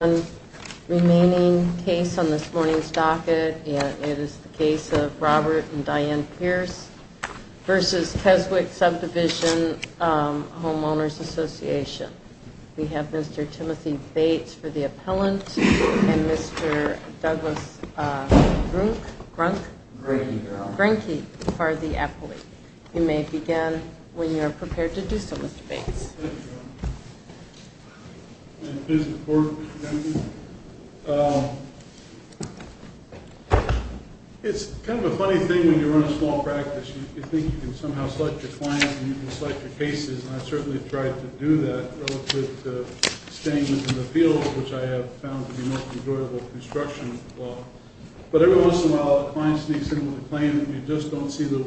We have one remaining case on this morning's docket, and it is the case of Robert and Dianne Pierce v. Keswick Subdivision Homeowners Association. We have Mr. Timothy Bates for the appellant and Mr. Douglas Brinke for the appellate. You may begin when you are prepared to do so, Mr. Bates. Thank you. It's kind of a funny thing when you run a small practice. You think you can somehow select your clients and you can select your cases, and I've certainly tried to do that, relative to staying within the field, which I have found to be the most enjoyable construction. But every once in a while a client sneaks in with a claim and you just don't see the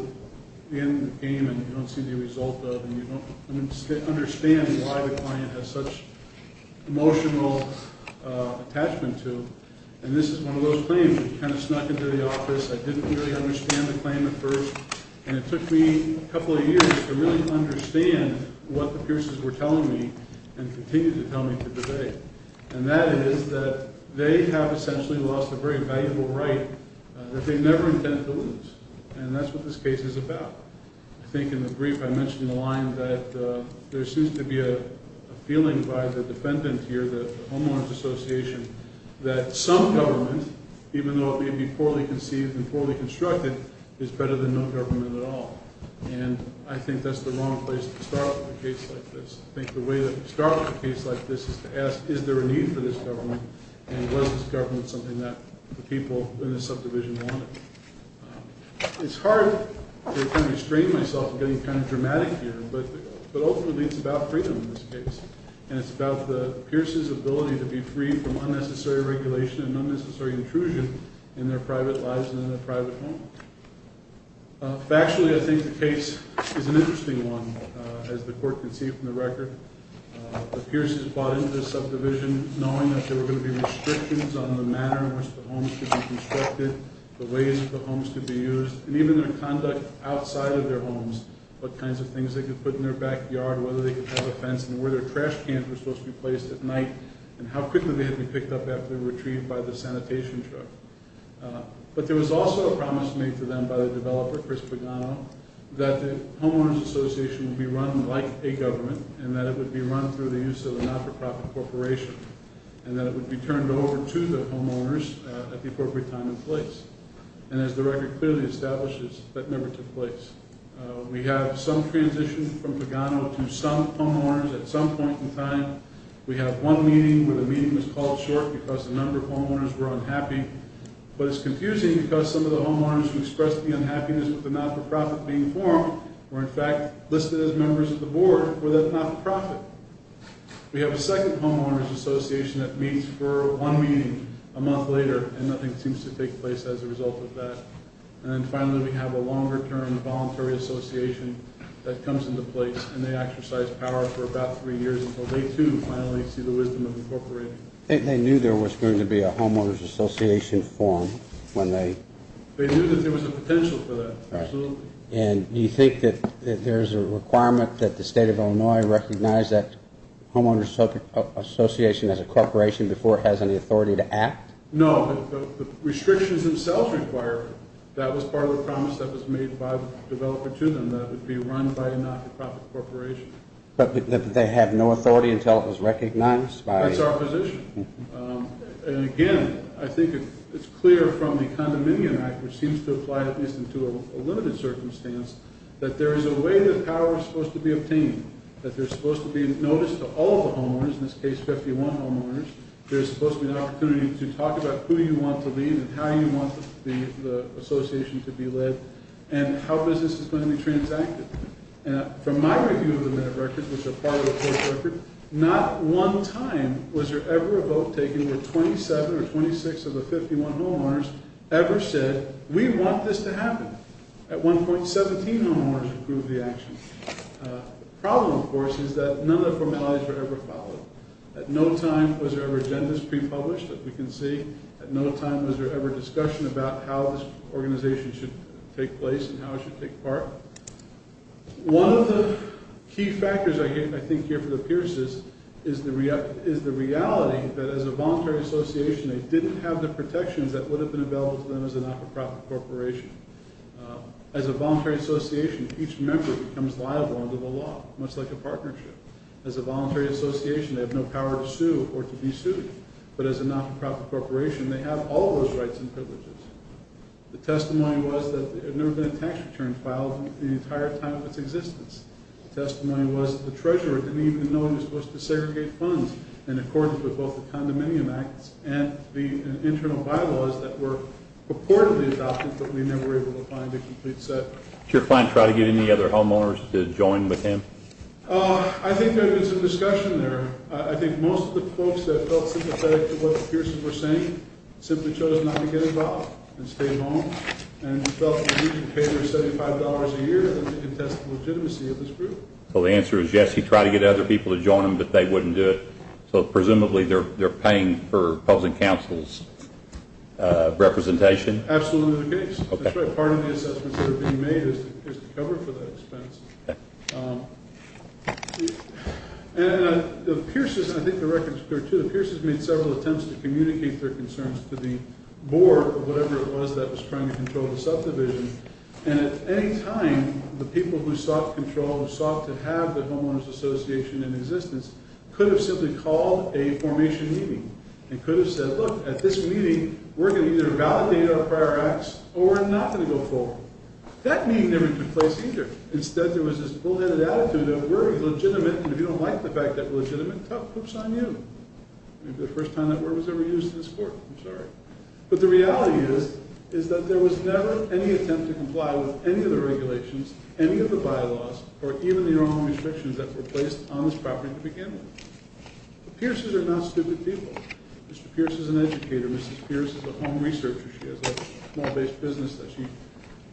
end of the game and you don't see the result of and you don't understand why the client has such emotional attachment to. And this is one of those claims that kind of snuck into the office. I didn't really understand the claim at first, and it took me a couple of years to really understand what the Pierce's were telling me and continue to tell me to this day. And that is that they have essentially lost a very valuable right that they never intend to lose, and that's what this case is about. I think in the brief I mentioned in the line that there seems to be a feeling by the defendant here, the homeowners association, that some government, even though it may be poorly conceived and poorly constructed, is better than no government at all. And I think that's the wrong place to start with a case like this. I think the way to start with a case like this is to ask is there a need for this government and was this government something that the people in the subdivision wanted. It's hard to kind of restrain myself from getting kind of dramatic here, but ultimately it's about freedom in this case, and it's about the Pierce's ability to be free from unnecessary regulation and unnecessary intrusion in their private lives and in their private home. Factually, I think the case is an interesting one, as the court can see from the record. The Pierce's bought into the subdivision knowing that there were going to be restrictions on the manner in which the homes could be constructed, the ways that the homes could be used, and even their conduct outside of their homes, what kinds of things they could put in their backyard, whether they could have a fence, and where their trash cans were supposed to be placed at night, and how quickly they had to be picked up after they were retrieved by the sanitation truck. But there was also a promise made to them by the developer, Chris Pagano, that the homeowners association would be run like a government and that it would be run through the use of a not-for-profit corporation and that it would be turned over to the homeowners at the appropriate time and place. And as the record clearly establishes, that never took place. We have some transitions from Pagano to some homeowners at some point in time. We have one meeting where the meeting was called short because a number of homeowners were unhappy, but it's confusing because some of the homeowners who expressed the unhappiness with the not-for-profit being formed were in fact listed as members of the board with a not-for-profit. We have a second homeowners association that meets for one meeting a month later, and nothing seems to take place as a result of that. And then finally we have a longer-term voluntary association that comes into place, and they exercise power for about three years until they too finally see the wisdom of incorporation. They knew there was going to be a homeowners association formed when they... They knew that there was a potential for that, absolutely. And you think that there's a requirement that the state of Illinois recognize that homeowners association as a corporation before it has any authority to act? No, the restrictions themselves require it. That was part of the promise that was made by the developer to them, that it would be run by a not-for-profit corporation. But they have no authority until it was recognized by... That's our position. And again, I think it's clear from the Condominium Act, which seems to apply at least into a limited circumstance, that there is a way that power is supposed to be obtained, that there's supposed to be notice to all the homeowners, in this case 51 homeowners, there's supposed to be an opportunity to talk about who you want to lead and how you want the association to be led, and how business is going to be transacted. From my review of the minute records, which are part of the court record, not one time was there ever a vote taken where 27 or 26 of the 51 homeowners ever said, we want this to happen. At one point, 17 homeowners approved the action. The problem, of course, is that none of the formalities were ever followed. At no time was there ever agendas pre-published, as we can see. At no time was there ever discussion about how this organization should take place and how it should take part. One of the key factors, I think, here for the Pierces, is the reality that as a voluntary association, they didn't have the protections that would have been available to them as a not-for-profit corporation. As a voluntary association, each member becomes liable under the law, much like a partnership. As a voluntary association, they have no power to sue or to be sued, but as a not-for-profit corporation, they have all those rights and privileges. The testimony was that there had never been a tax return filed in the entire time of its existence. The testimony was that the treasurer didn't even know he was supposed to segregate funds in accordance with both the Condominium Acts and the internal bylaws that were purportedly adopted, but we never were able to find a complete set. Did your client try to get any other homeowners to join with him? I think there had been some discussion there. I think most of the folks that felt sympathetic to what the Pierces were saying simply chose not to get involved and stayed home, and felt that they needed to pay their $75 a year to contest the legitimacy of this group. So the answer is yes, he tried to get other people to join him, but they wouldn't do it. So presumably they're paying for public counsel's representation? Absolutely the case. That's right, part of the assessments that are being made is to cover for that expense. I think the record is clear, too. The Pierces made several attempts to communicate their concerns to the board or whatever it was that was trying to control the subdivision, and at any time the people who sought control, who sought to have the Homeowners Association in existence could have simply called a formation meeting and could have said, look, at this meeting we're going to either validate our prior acts or we're not going to go forward. That meeting never took place either. Instead there was this bullheaded attitude of, we're legitimate, and if you don't like the fact that we're legitimate, whoops on you. Maybe the first time that word was ever used in this court, I'm sorry. But the reality is that there was never any attempt to comply with any of the regulations, any of the bylaws, or even the own restrictions that were placed on this property to begin with. The Pierces are not stupid people. Mr. Pierce is an educator, Mrs. Pierce is a home researcher. She has a small-based business that she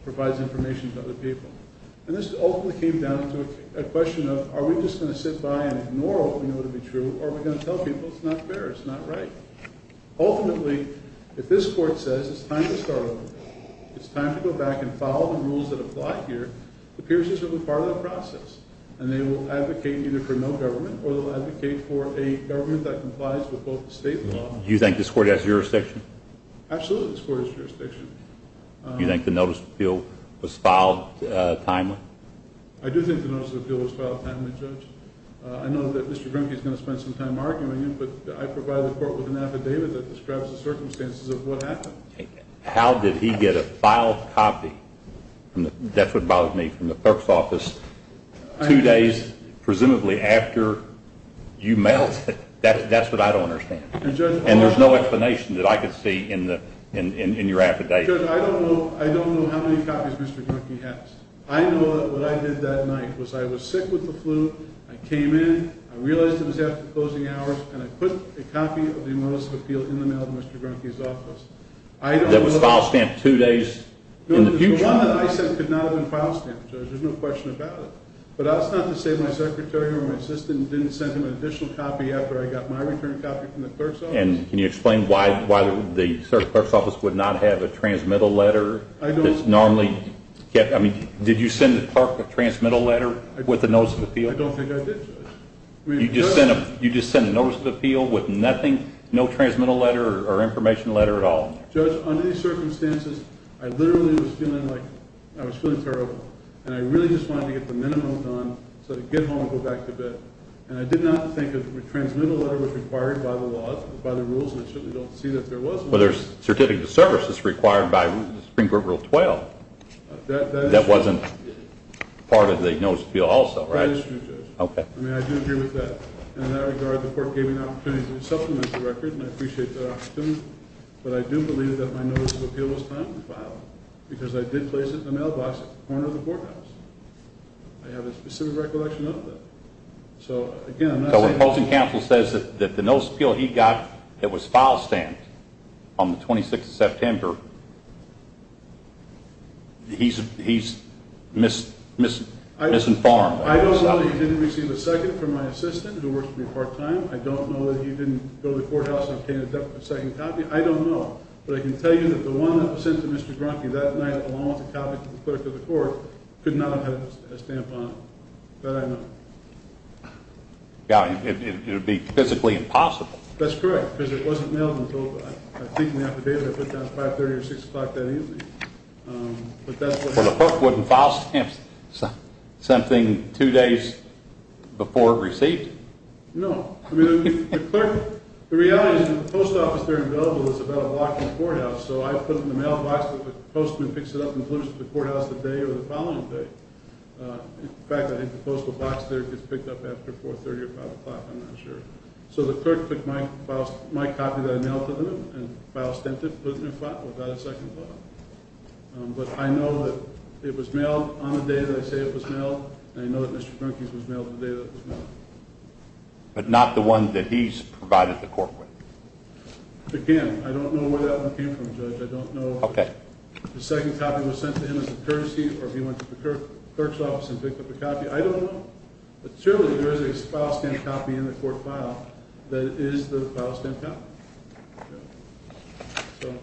provides information to other people. And this ultimately came down to a question of, are we just going to sit by and ignore what we know to be true, or are we going to tell people it's not fair, it's not right? Ultimately, if this court says it's time to start over, it's time to go back and follow the rules that apply here, the Pierces will be part of the process, and they will advocate either for no government or they'll advocate for a government that complies with both the state and the law. Do you think this court has jurisdiction? Absolutely this court has jurisdiction. Do you think the notice of appeal was filed timely? I do think the notice of appeal was filed timely, Judge. I know that Mr. Grimke is going to spend some time arguing it, but I provide the court with an affidavit that describes the circumstances of what happened. How did he get a filed copy? That's what bothers me. From the clerk's office two days, presumably, after you mailed it. That's what I don't understand. And there's no explanation that I could see in your affidavit. Judge, I don't know how many copies Mr. Grimke has. I know that what I did that night was I was sick with the flu, I came in, I realized it was after closing hours, and I put a copy of the notice of appeal in the mail to Mr. Grimke's office. That was file stamped two days in the future. The one that I sent could not have been file stamped, Judge, there's no question about it. But that's not to say my secretary or my assistant didn't send him an additional copy after I got my return copy from the clerk's office. And can you explain why the clerk's office would not have a transmittal letter? Did you send the clerk a transmittal letter with a notice of appeal? I don't think I did, Judge. You just sent a notice of appeal with nothing, no transmittal letter or information letter at all? Judge, under these circumstances, I literally was feeling like I was feeling terrible, and I really just wanted to get the minimum done so I could get home and go back to bed. And I did not think a transmittal letter was required by the laws, by the rules, and I certainly don't see that there was one. Well, there's certificate of service that's required by Supreme Court Rule 12. That wasn't part of the notice of appeal also, right? That is true, Judge. Okay. I mean, I do agree with that. In that regard, the court gave me an opportunity to supplement the record, and I appreciate that opportunity. But I do believe that my notice of appeal was timely filed because I did place it in the mailbox at the corner of the courthouse. I have a specific recollection of that. So, again, I'm not saying that... So when Post and Counsel says that the notice of appeal he got, it was file stamped on the 26th of September, he's misinformed. I don't know that he didn't receive a second from my assistant who works with me part-time. I don't know that he didn't go to the courthouse and obtain a second copy. I don't know. But I can tell you that the one that was sent to Mr. Gronke that night, along with a copy to the clerk of the court, could not have had a stamp on it. That I know. Yeah. It would be physically impossible. That's correct, because it wasn't mailed until I think in the affidavit I put down 530 or 6 o'clock that evening. But that's what happened. Well, the clerk wouldn't file something two days before it received? No. I mean, the clerk... The reality is that the post office there in Billable is about a block from the courthouse, so I put in the mailbox that the postman picks it up and delivers it to the courthouse the day or the following day. In fact, I think the postal box there gets picked up after 430 or 5 o'clock. I'm not sure. So the clerk took my copy that I mailed to them and file stamped it, put it in a file, and got a second copy. But I know that it was mailed on the day that I say it was mailed, and I know that Mr. Gronke's was mailed the day that it was mailed. But not the one that he's provided the court with? I can't. I don't know where that one came from, Judge. I don't know if the second copy was sent to him as a courtesy or if he went to the clerk's office and picked up a copy. I don't know. But surely there is a file stamped copy in the court file that is the file stamped copy. So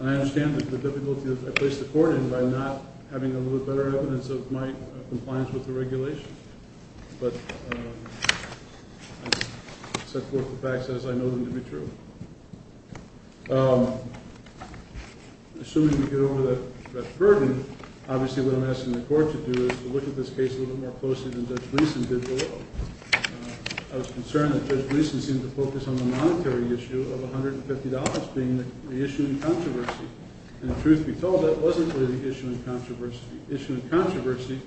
I understand the difficulty that I placed the court in by not having a little bit better evidence of my compliance with the regulations. But I set forth the facts as I know them to be true. Assuming we get over that burden, obviously what I'm asking the court to do is to look at this case a little bit more closely than Judge Gleeson did below. I was concerned that Judge Gleeson seemed to focus on the monetary issue of $150 being the issue in controversy. And the truth be told, that wasn't really the issue in controversy. The issue in controversy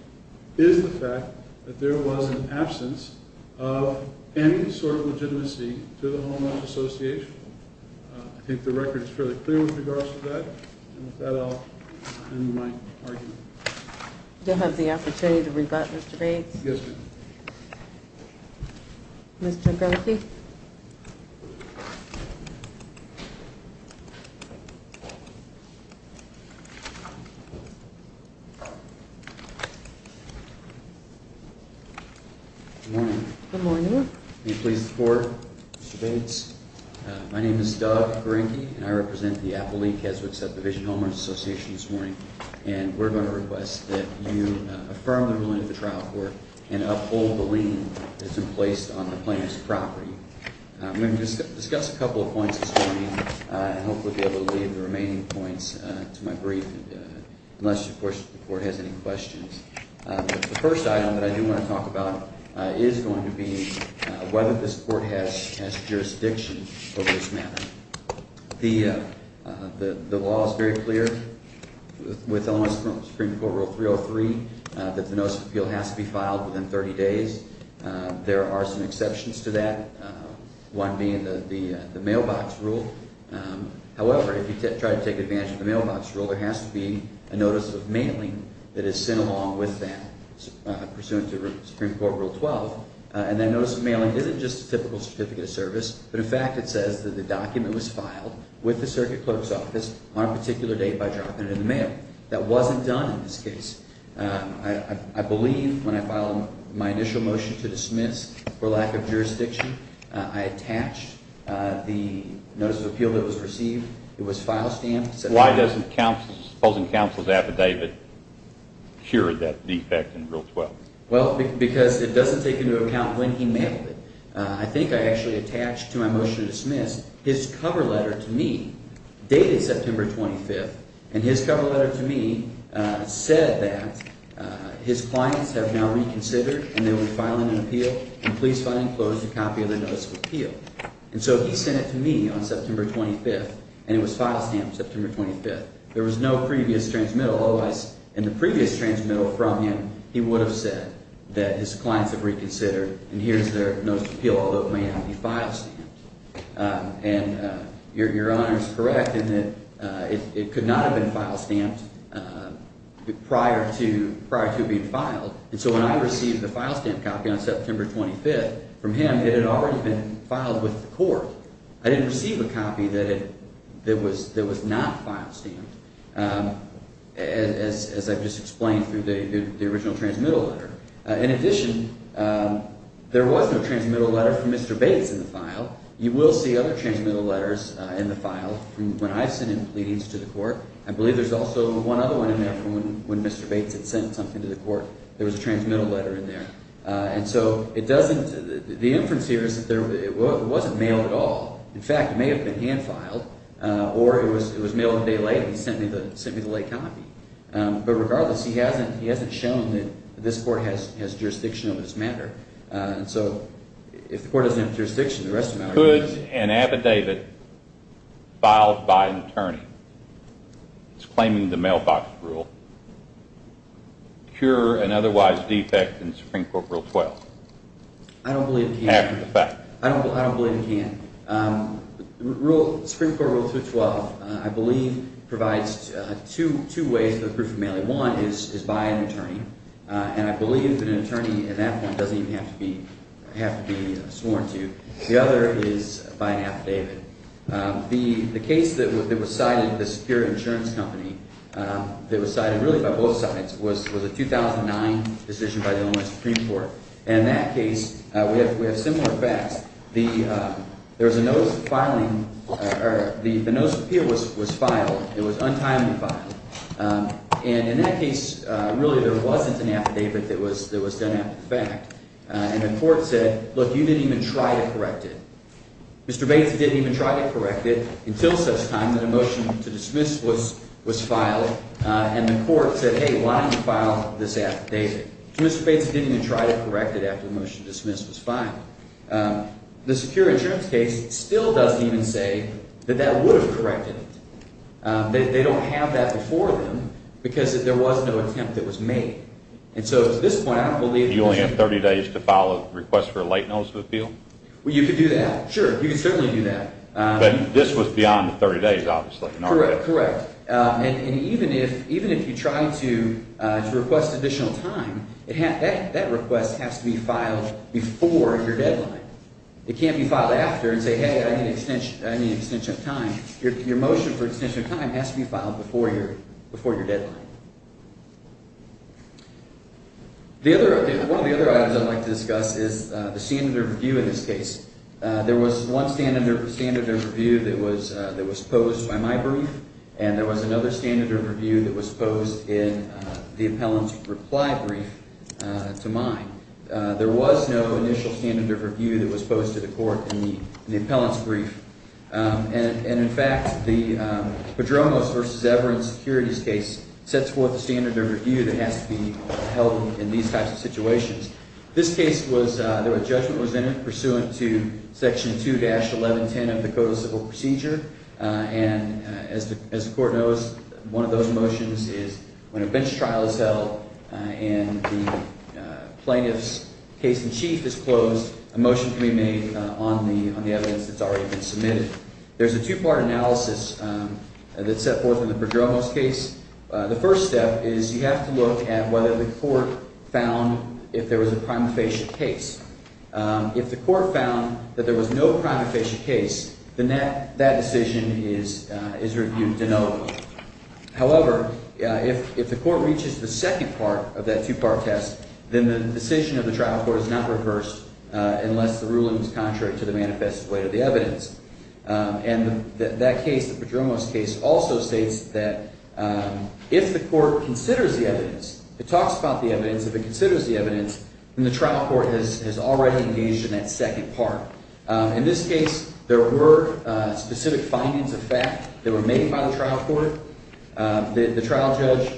is the fact that there was an absence of any sort of legitimacy to the homeowner's association. I think the record is fairly clear with regards to that. And with that, I'll end my argument. Do you have the opportunity to rebut, Mr. Bates? Yes, ma'am. Mr. Grimsey? Good morning. Good morning. May I please have the floor, Mr. Bates? My name is Doug Grimsey, and I represent the Appellee-Keswick Subdivision Homeowners Association this morning. And we're going to request that you affirm the ruling of the trial court and uphold the lien that's been placed on the plaintiff's property. I'm going to discuss a couple of points this morning and hopefully be able to leave the remaining points to my brief, unless, of course, the court has any questions. The first item that I do want to talk about is going to be whether this court has jurisdiction over this matter. The law is very clear with elements of Supreme Court Rule 303 that the notice of appeal has to be filed within 30 days. There are some exceptions to that, one being the mailbox rule. However, if you try to take advantage of the mailbox rule, there has to be a notice of mailing that is sent along with that, pursuant to Supreme Court Rule 12. And that notice of mailing isn't just a typical certificate of service, but in fact it says that the document was filed with the circuit clerk's office on a particular date by dropping it in the mail. That wasn't done in this case. I believe when I filed my initial motion to dismiss for lack of jurisdiction, I attached the notice of appeal that was received. It was file stamped. Why doesn't the opposing counsel's affidavit cure that defect in Rule 12? Well, because it doesn't take into account when he mailed it. I think I actually attached to my motion to dismiss his cover letter to me, dated September 25th, and his cover letter to me said that his clients have now reconsidered and they were filing an appeal, and please sign and close the copy of the notice of appeal. And so he sent it to me on September 25th, and it was file stamped September 25th. There was no previous transmittal. Otherwise, in the previous transmittal from him, he would have said that his clients have reconsidered, and here's their notice of appeal, although it may not be file stamped. And Your Honor is correct in that it could not have been file stamped prior to being filed. And so when I received the file stamped copy on September 25th from him, it had already been filed with the court. I didn't receive a copy that was not file stamped, as I've just explained through the original transmittal letter. In addition, there was no transmittal letter from Mr. Bates in the file. You will see other transmittal letters in the file from when I've sent in pleadings to the court. I believe there's also one other one in there from when Mr. Bates had sent something to the court. There was a transmittal letter in there. And so the inference here is that it wasn't mailed at all. In fact, it may have been hand filed or it was mailed a day later and he sent me the late copy. But regardless, he hasn't shown that this court has jurisdiction over this matter. And so if the court doesn't have jurisdiction, the rest of the matter is yours. Could an affidavit filed by an attorney that's claiming the mailbox rule cure an otherwise defect in Supreme Court Rule 12? I don't believe it can. After the fact. I don't believe it can. The Supreme Court Rule 212, I believe, provides two ways for the proof of mailing. One is by an attorney, and I believe that an attorney at that point doesn't even have to be sworn to. The other is by an affidavit. The case that was cited, the Superior Insurance Company, that was cited really by both sides, was a 2009 decision by the Illinois Supreme Court. And in that case, we have similar facts. There was a notice of filing – or the notice of appeal was filed. It was untimely filed. And in that case, really there wasn't an affidavit that was done after the fact. And the court said, look, you didn't even try to correct it. Mr. Bates didn't even try to correct it until such time that a motion to dismiss was filed. And the court said, hey, why don't you file this affidavit? Mr. Bates didn't even try to correct it after the motion to dismiss was filed. The Security Insurance case still doesn't even say that that would have corrected it. They don't have that before them because there was no attempt that was made. And so to this point, I don't believe – You only have 30 days to file a request for a late notice of appeal? Well, you could do that. Sure, you could certainly do that. But this was beyond the 30 days, obviously. Correct, correct. And even if you try to request additional time, that request has to be filed before your deadline. It can't be filed after and say, hey, I need an extension of time. Your motion for extension of time has to be filed before your deadline. One of the other items I'd like to discuss is the standard of review in this case. There was one standard of review that was posed by my brief, and there was another standard of review that was posed in the appellant's reply brief to mine. There was no initial standard of review that was posed to the court in the appellant's brief. And, in fact, the Padronos v. Everin securities case sets forth a standard of review that has to be held in these types of situations. This case was – there was a judgment was entered pursuant to Section 2-1110 of the Code of Civil Procedure. And as the court knows, one of those motions is when a bench trial is held and the plaintiff's case in chief is closed, a motion can be made on the evidence that's already been submitted. There's a two-part analysis that's set forth in the Padronos case. The first step is you have to look at whether the court found if there was a prima facie case. If the court found that there was no prima facie case, then that decision is reviewed de novo. However, if the court reaches the second part of that two-part test, then the decision of the trial court is not reversed unless the ruling is contrary to the manifest way of the evidence. And that case, the Padronos case, also states that if the court considers the evidence, it talks about the evidence. If it considers the evidence, then the trial court has already engaged in that second part. In this case, there were specific findings of fact that were made by the trial court. The trial judge,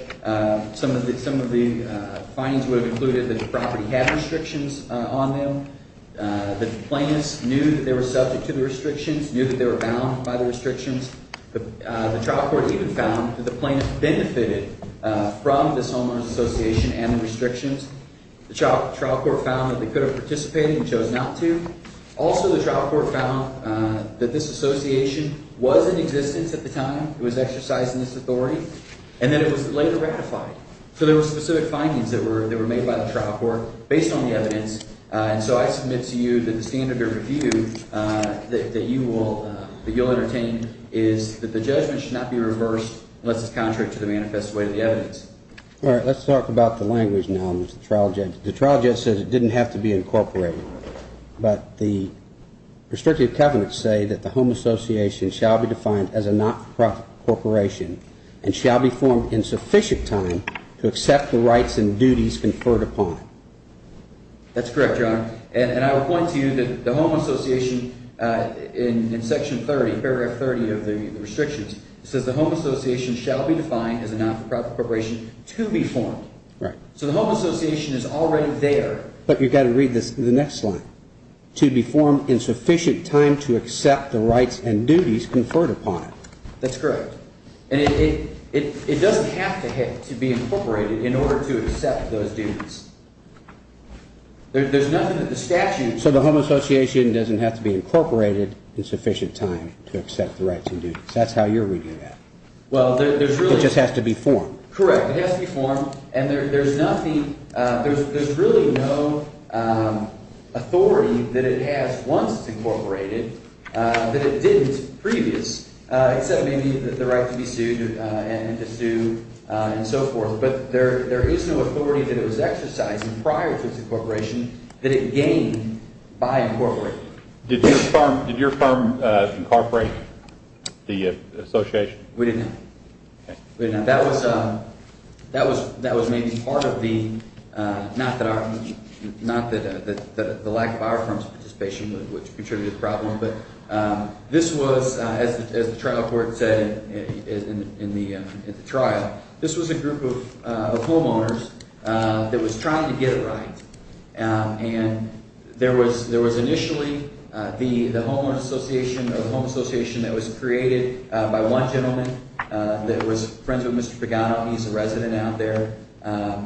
some of the findings would have included that the property had restrictions on them. The plaintiffs knew that they were subject to the restrictions, knew that they were bound by the restrictions. The trial court even found that the plaintiffs benefited from this homeowners association and the restrictions. The trial court found that they could have participated and chose not to. Also, the trial court found that this association was in existence at the time it was exercised in this authority and that it was later ratified. So there were specific findings that were made by the trial court based on the evidence. And so I submit to you that the standard of review that you will entertain is that the judgment should not be reversed unless it's contrary to the manifest way of the evidence. All right, let's talk about the language now, Mr. Trial Judge. The trial judge says it didn't have to be incorporated. But the restrictive covenants say that the home association shall be defined as a not-for-profit corporation and shall be formed in sufficient time to accept the rights and duties conferred upon it. That's correct, Your Honor. And I will point to you that the home association in Section 30, Paragraph 30 of the restrictions, says the home association shall be defined as a not-for-profit corporation to be formed. Right. So the home association is already there. But you've got to read the next slide. To be formed in sufficient time to accept the rights and duties conferred upon it. That's correct. And it doesn't have to be incorporated in order to accept those duties. There's nothing that the statute. So the home association doesn't have to be incorporated in sufficient time to accept the rights and duties. That's how you're reading that. Well, there's really. It just has to be formed. Correct. It has to be formed. And there's nothing, there's really no authority that it has once it's incorporated that it didn't previous, except maybe the right to be sued and to sue and so forth. But there is no authority that it was exercised prior to its incorporation that it gained by incorporating it. Did your firm incorporate the association? We didn't. Okay. That was maybe part of the, not that the lack of our firm's participation would contribute to the problem. But this was, as the trial court said in the trial, this was a group of homeowners that was trying to get it right. And there was initially the homeowner association or home association that was created by one gentleman that was friends with Mr. Pagano. He's a resident out there.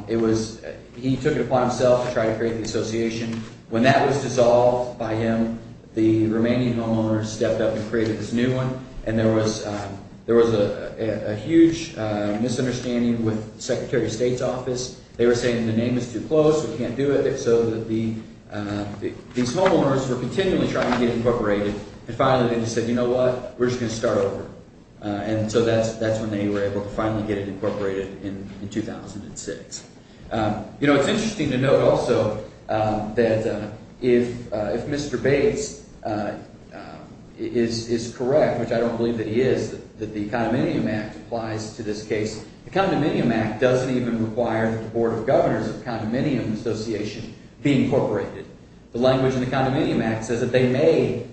It was, he took it upon himself to try to create the association. When that was dissolved by him, the remaining homeowners stepped up and created this new one. And there was a huge misunderstanding with the Secretary of State's office. They were saying the name is too close. We can't do it. So these homeowners were continually trying to get it incorporated. And finally they just said, you know what, we're just going to start over. And so that's when they were able to finally get it incorporated in 2006. It's interesting to note also that if Mr. Bates is correct, which I don't believe that he is, that the Condominium Act applies to this case. The Condominium Act doesn't even require that the Board of Governors of the Condominium Association be incorporated. The language in the Condominium Act says that they may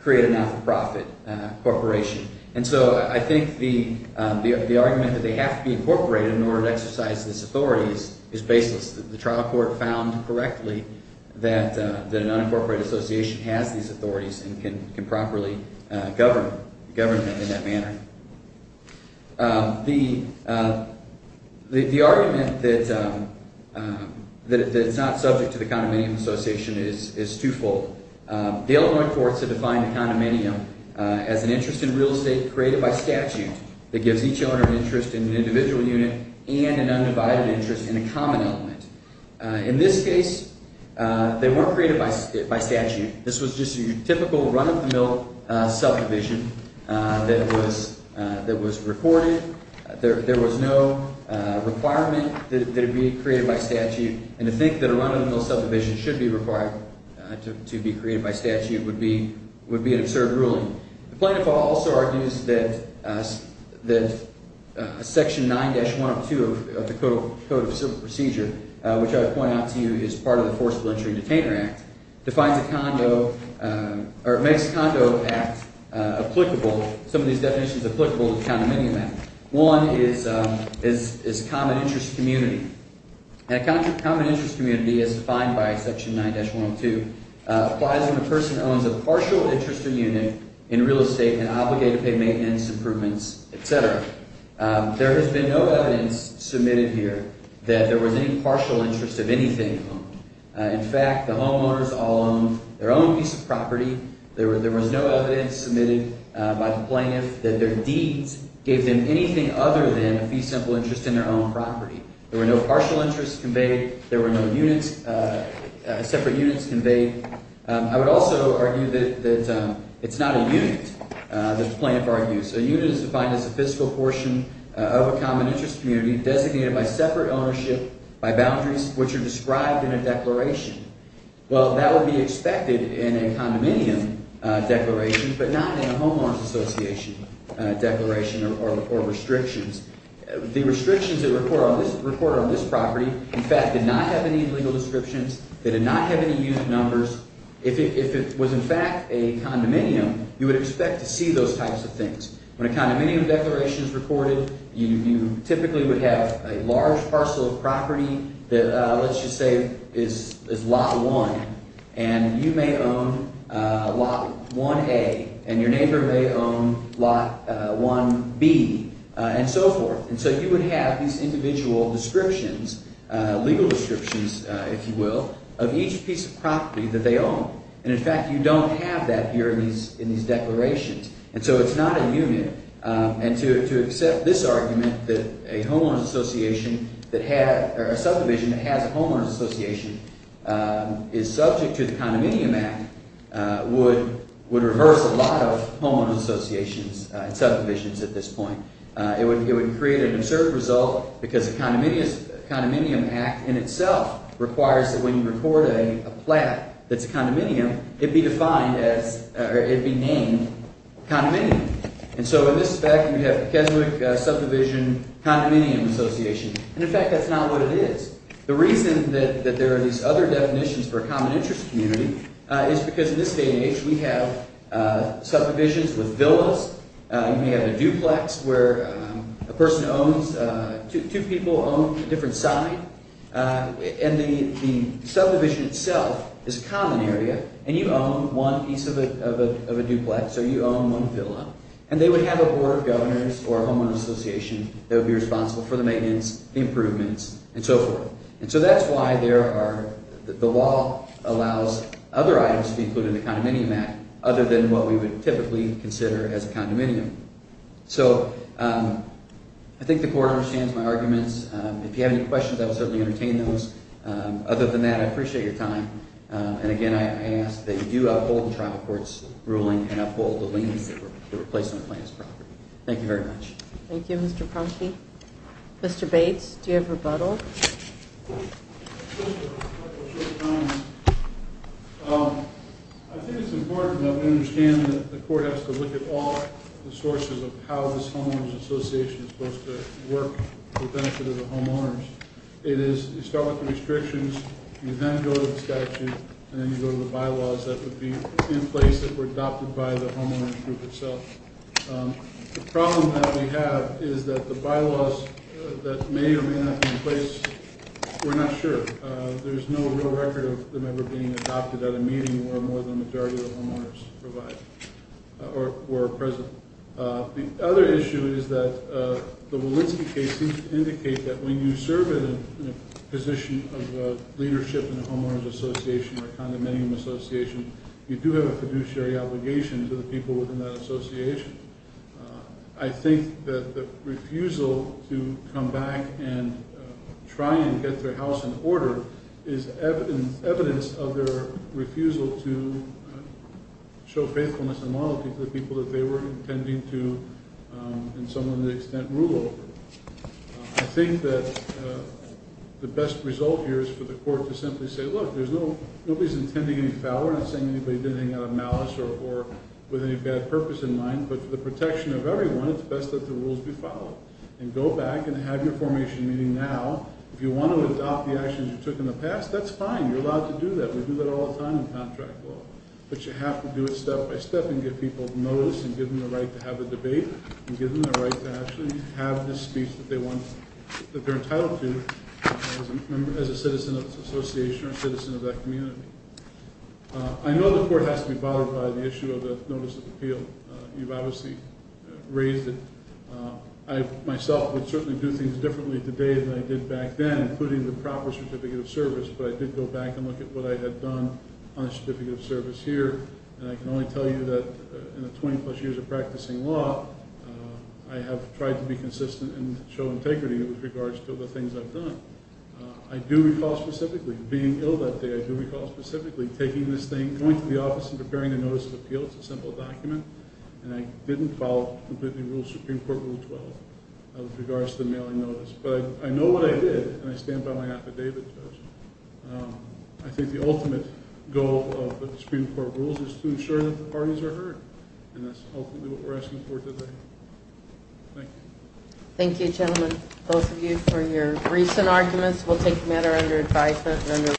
create a not-for-profit corporation. And so I think the argument that they have to be incorporated in order to exercise these authorities is baseless. The trial court found correctly that an unincorporated association has these authorities and can properly govern them in that manner. The argument that it's not subject to the Condominium Association is twofold. Dale went forth to define a condominium as an interest in real estate created by statute that gives each owner an interest in an individual unit and an undivided interest in a common element. In this case, they weren't created by statute. This was just a typical run-of-the-mill subdivision that was recorded. There was no requirement that it be created by statute, and to think that a run-of-the-mill subdivision should be required to be created by statute would be an absurd ruling. The plaintiff also argues that Section 9-102 of the Code of Civil Procedure, which I would point out to you is part of the Forcible Injury and Detainer Act, defines a condo – or makes a condo act applicable – some of these definitions applicable to the Condominium Act. One is common interest community. And a common interest community as defined by Section 9-102 applies when a person owns a partial interest in unit in real estate and obligated pay maintenance improvements, etc. There has been no evidence submitted here that there was any partial interest of anything. In fact, the homeowners all owned their own piece of property. There was no evidence submitted by the plaintiff that their deeds gave them anything other than a fee-simple interest in their own property. There were no partial interests conveyed. There were no units – separate units conveyed. I would also argue that it's not a unit, the plaintiff argues. A unit is defined as a fiscal portion of a common interest community designated by separate ownership by boundaries, which are described in a declaration. Well, that would be expected in a condominium declaration, but not in a homeowner's association declaration or restrictions. The restrictions that are recorded on this property, in fact, did not have any legal descriptions. They did not have any unit numbers. If it was in fact a condominium, you would expect to see those types of things. When a condominium declaration is recorded, you typically would have a large parcel of property that, let's just say, is Lot 1. And you may own Lot 1A, and your neighbor may own Lot 1B. And so forth. And so you would have these individual descriptions, legal descriptions, if you will, of each piece of property that they own. And in fact you don't have that here in these declarations. And so it's not a unit. And to accept this argument that a homeowner's association that had – or a subdivision that has a homeowner's association is subject to the Condominium Act would reverse a lot of homeowner's associations and subdivisions at this point. It would create an absurd result because the Condominium Act in itself requires that when you record a plat that's a condominium, it be defined as – or it be named condominium. And so in this fact we have Keswick Subdivision Condominium Association. And in fact that's not what it is. The reason that there are these other definitions for a common interest community is because in this day and age we have subdivisions with villas. You may have a duplex where a person owns – two people own a different site. And the subdivision itself is a common area, and you own one piece of a duplex or you own one villa. And they would have a board of governors or a homeowner's association that would be responsible for the maintenance, the improvements, and so forth. And so that's why there are – the law allows other items to be included in the Condominium Act other than what we would typically consider as a condominium. So I think the court understands my arguments. If you have any questions, I will certainly entertain those. Other than that, I appreciate your time. And again, I ask that you do uphold the trial court's ruling and uphold the leniency for the replacement plan as a property. Thank you very much. Thank you, Mr. Kronsky. Mr. Bates, do you have a rebuttal? Just a couple short comments. I think it's important that we understand that the court has to look at all the sources of how this homeowners' association is supposed to work for the benefit of the homeowners. It is – you start with the restrictions, you then go to the statute, and then you go to the bylaws that would be in place that were adopted by the homeowners' group itself. The problem that we have is that the bylaws that may or may not be in place, we're not sure. There's no real record of them ever being adopted at a meeting where more than a majority of the homeowners were present. The other issue is that the Walensky case seems to indicate that when you serve in a position of leadership in a homeowners' association or a condominium association, you do have a fiduciary obligation to the people within that association. I think that the refusal to come back and try and get their house in order is evidence of their refusal to show faithfulness and loyalty to the people that they were intending to, in some extent, rule over. I think that the best result here is for the court to simply say, look, there's no – nobody's intending any failure. I'm not saying anybody did anything out of malice or with any bad purpose in mind, but for the protection of everyone, it's best that the rules be followed. And go back and have your formation meeting now. If you want to adopt the actions you took in the past, that's fine. You're allowed to do that. We do that all the time in contract law. But you have to do it step by step and give people notice and give them the right to have a debate and give them the right to actually have the speech that they're entitled to as a citizen of the association or a citizen of that community. I know the court has to be bothered by the issue of the notice of appeal. You've obviously raised it. I myself would certainly do things differently today than I did back then, including the proper certificate of service, but I did go back and look at what I had done on a certificate of service here. And I can only tell you that in the 20-plus years of practicing law, I have tried to be consistent and show integrity with regards to the things I've done. I do recall specifically being ill that day. I do recall specifically taking this thing, going to the office and preparing a notice of appeal. It's a simple document. And I didn't follow completely the rules of Supreme Court Rule 12 with regards to the mailing notice. But I know what I did, and I stand by my affidavit. I think the ultimate goal of the Supreme Court rules is to ensure that the parties are heard, and that's ultimately what we're asking for today. Thank you. Thank you, gentlemen, both of you, for your briefs and arguments. We'll take the matter under advisement.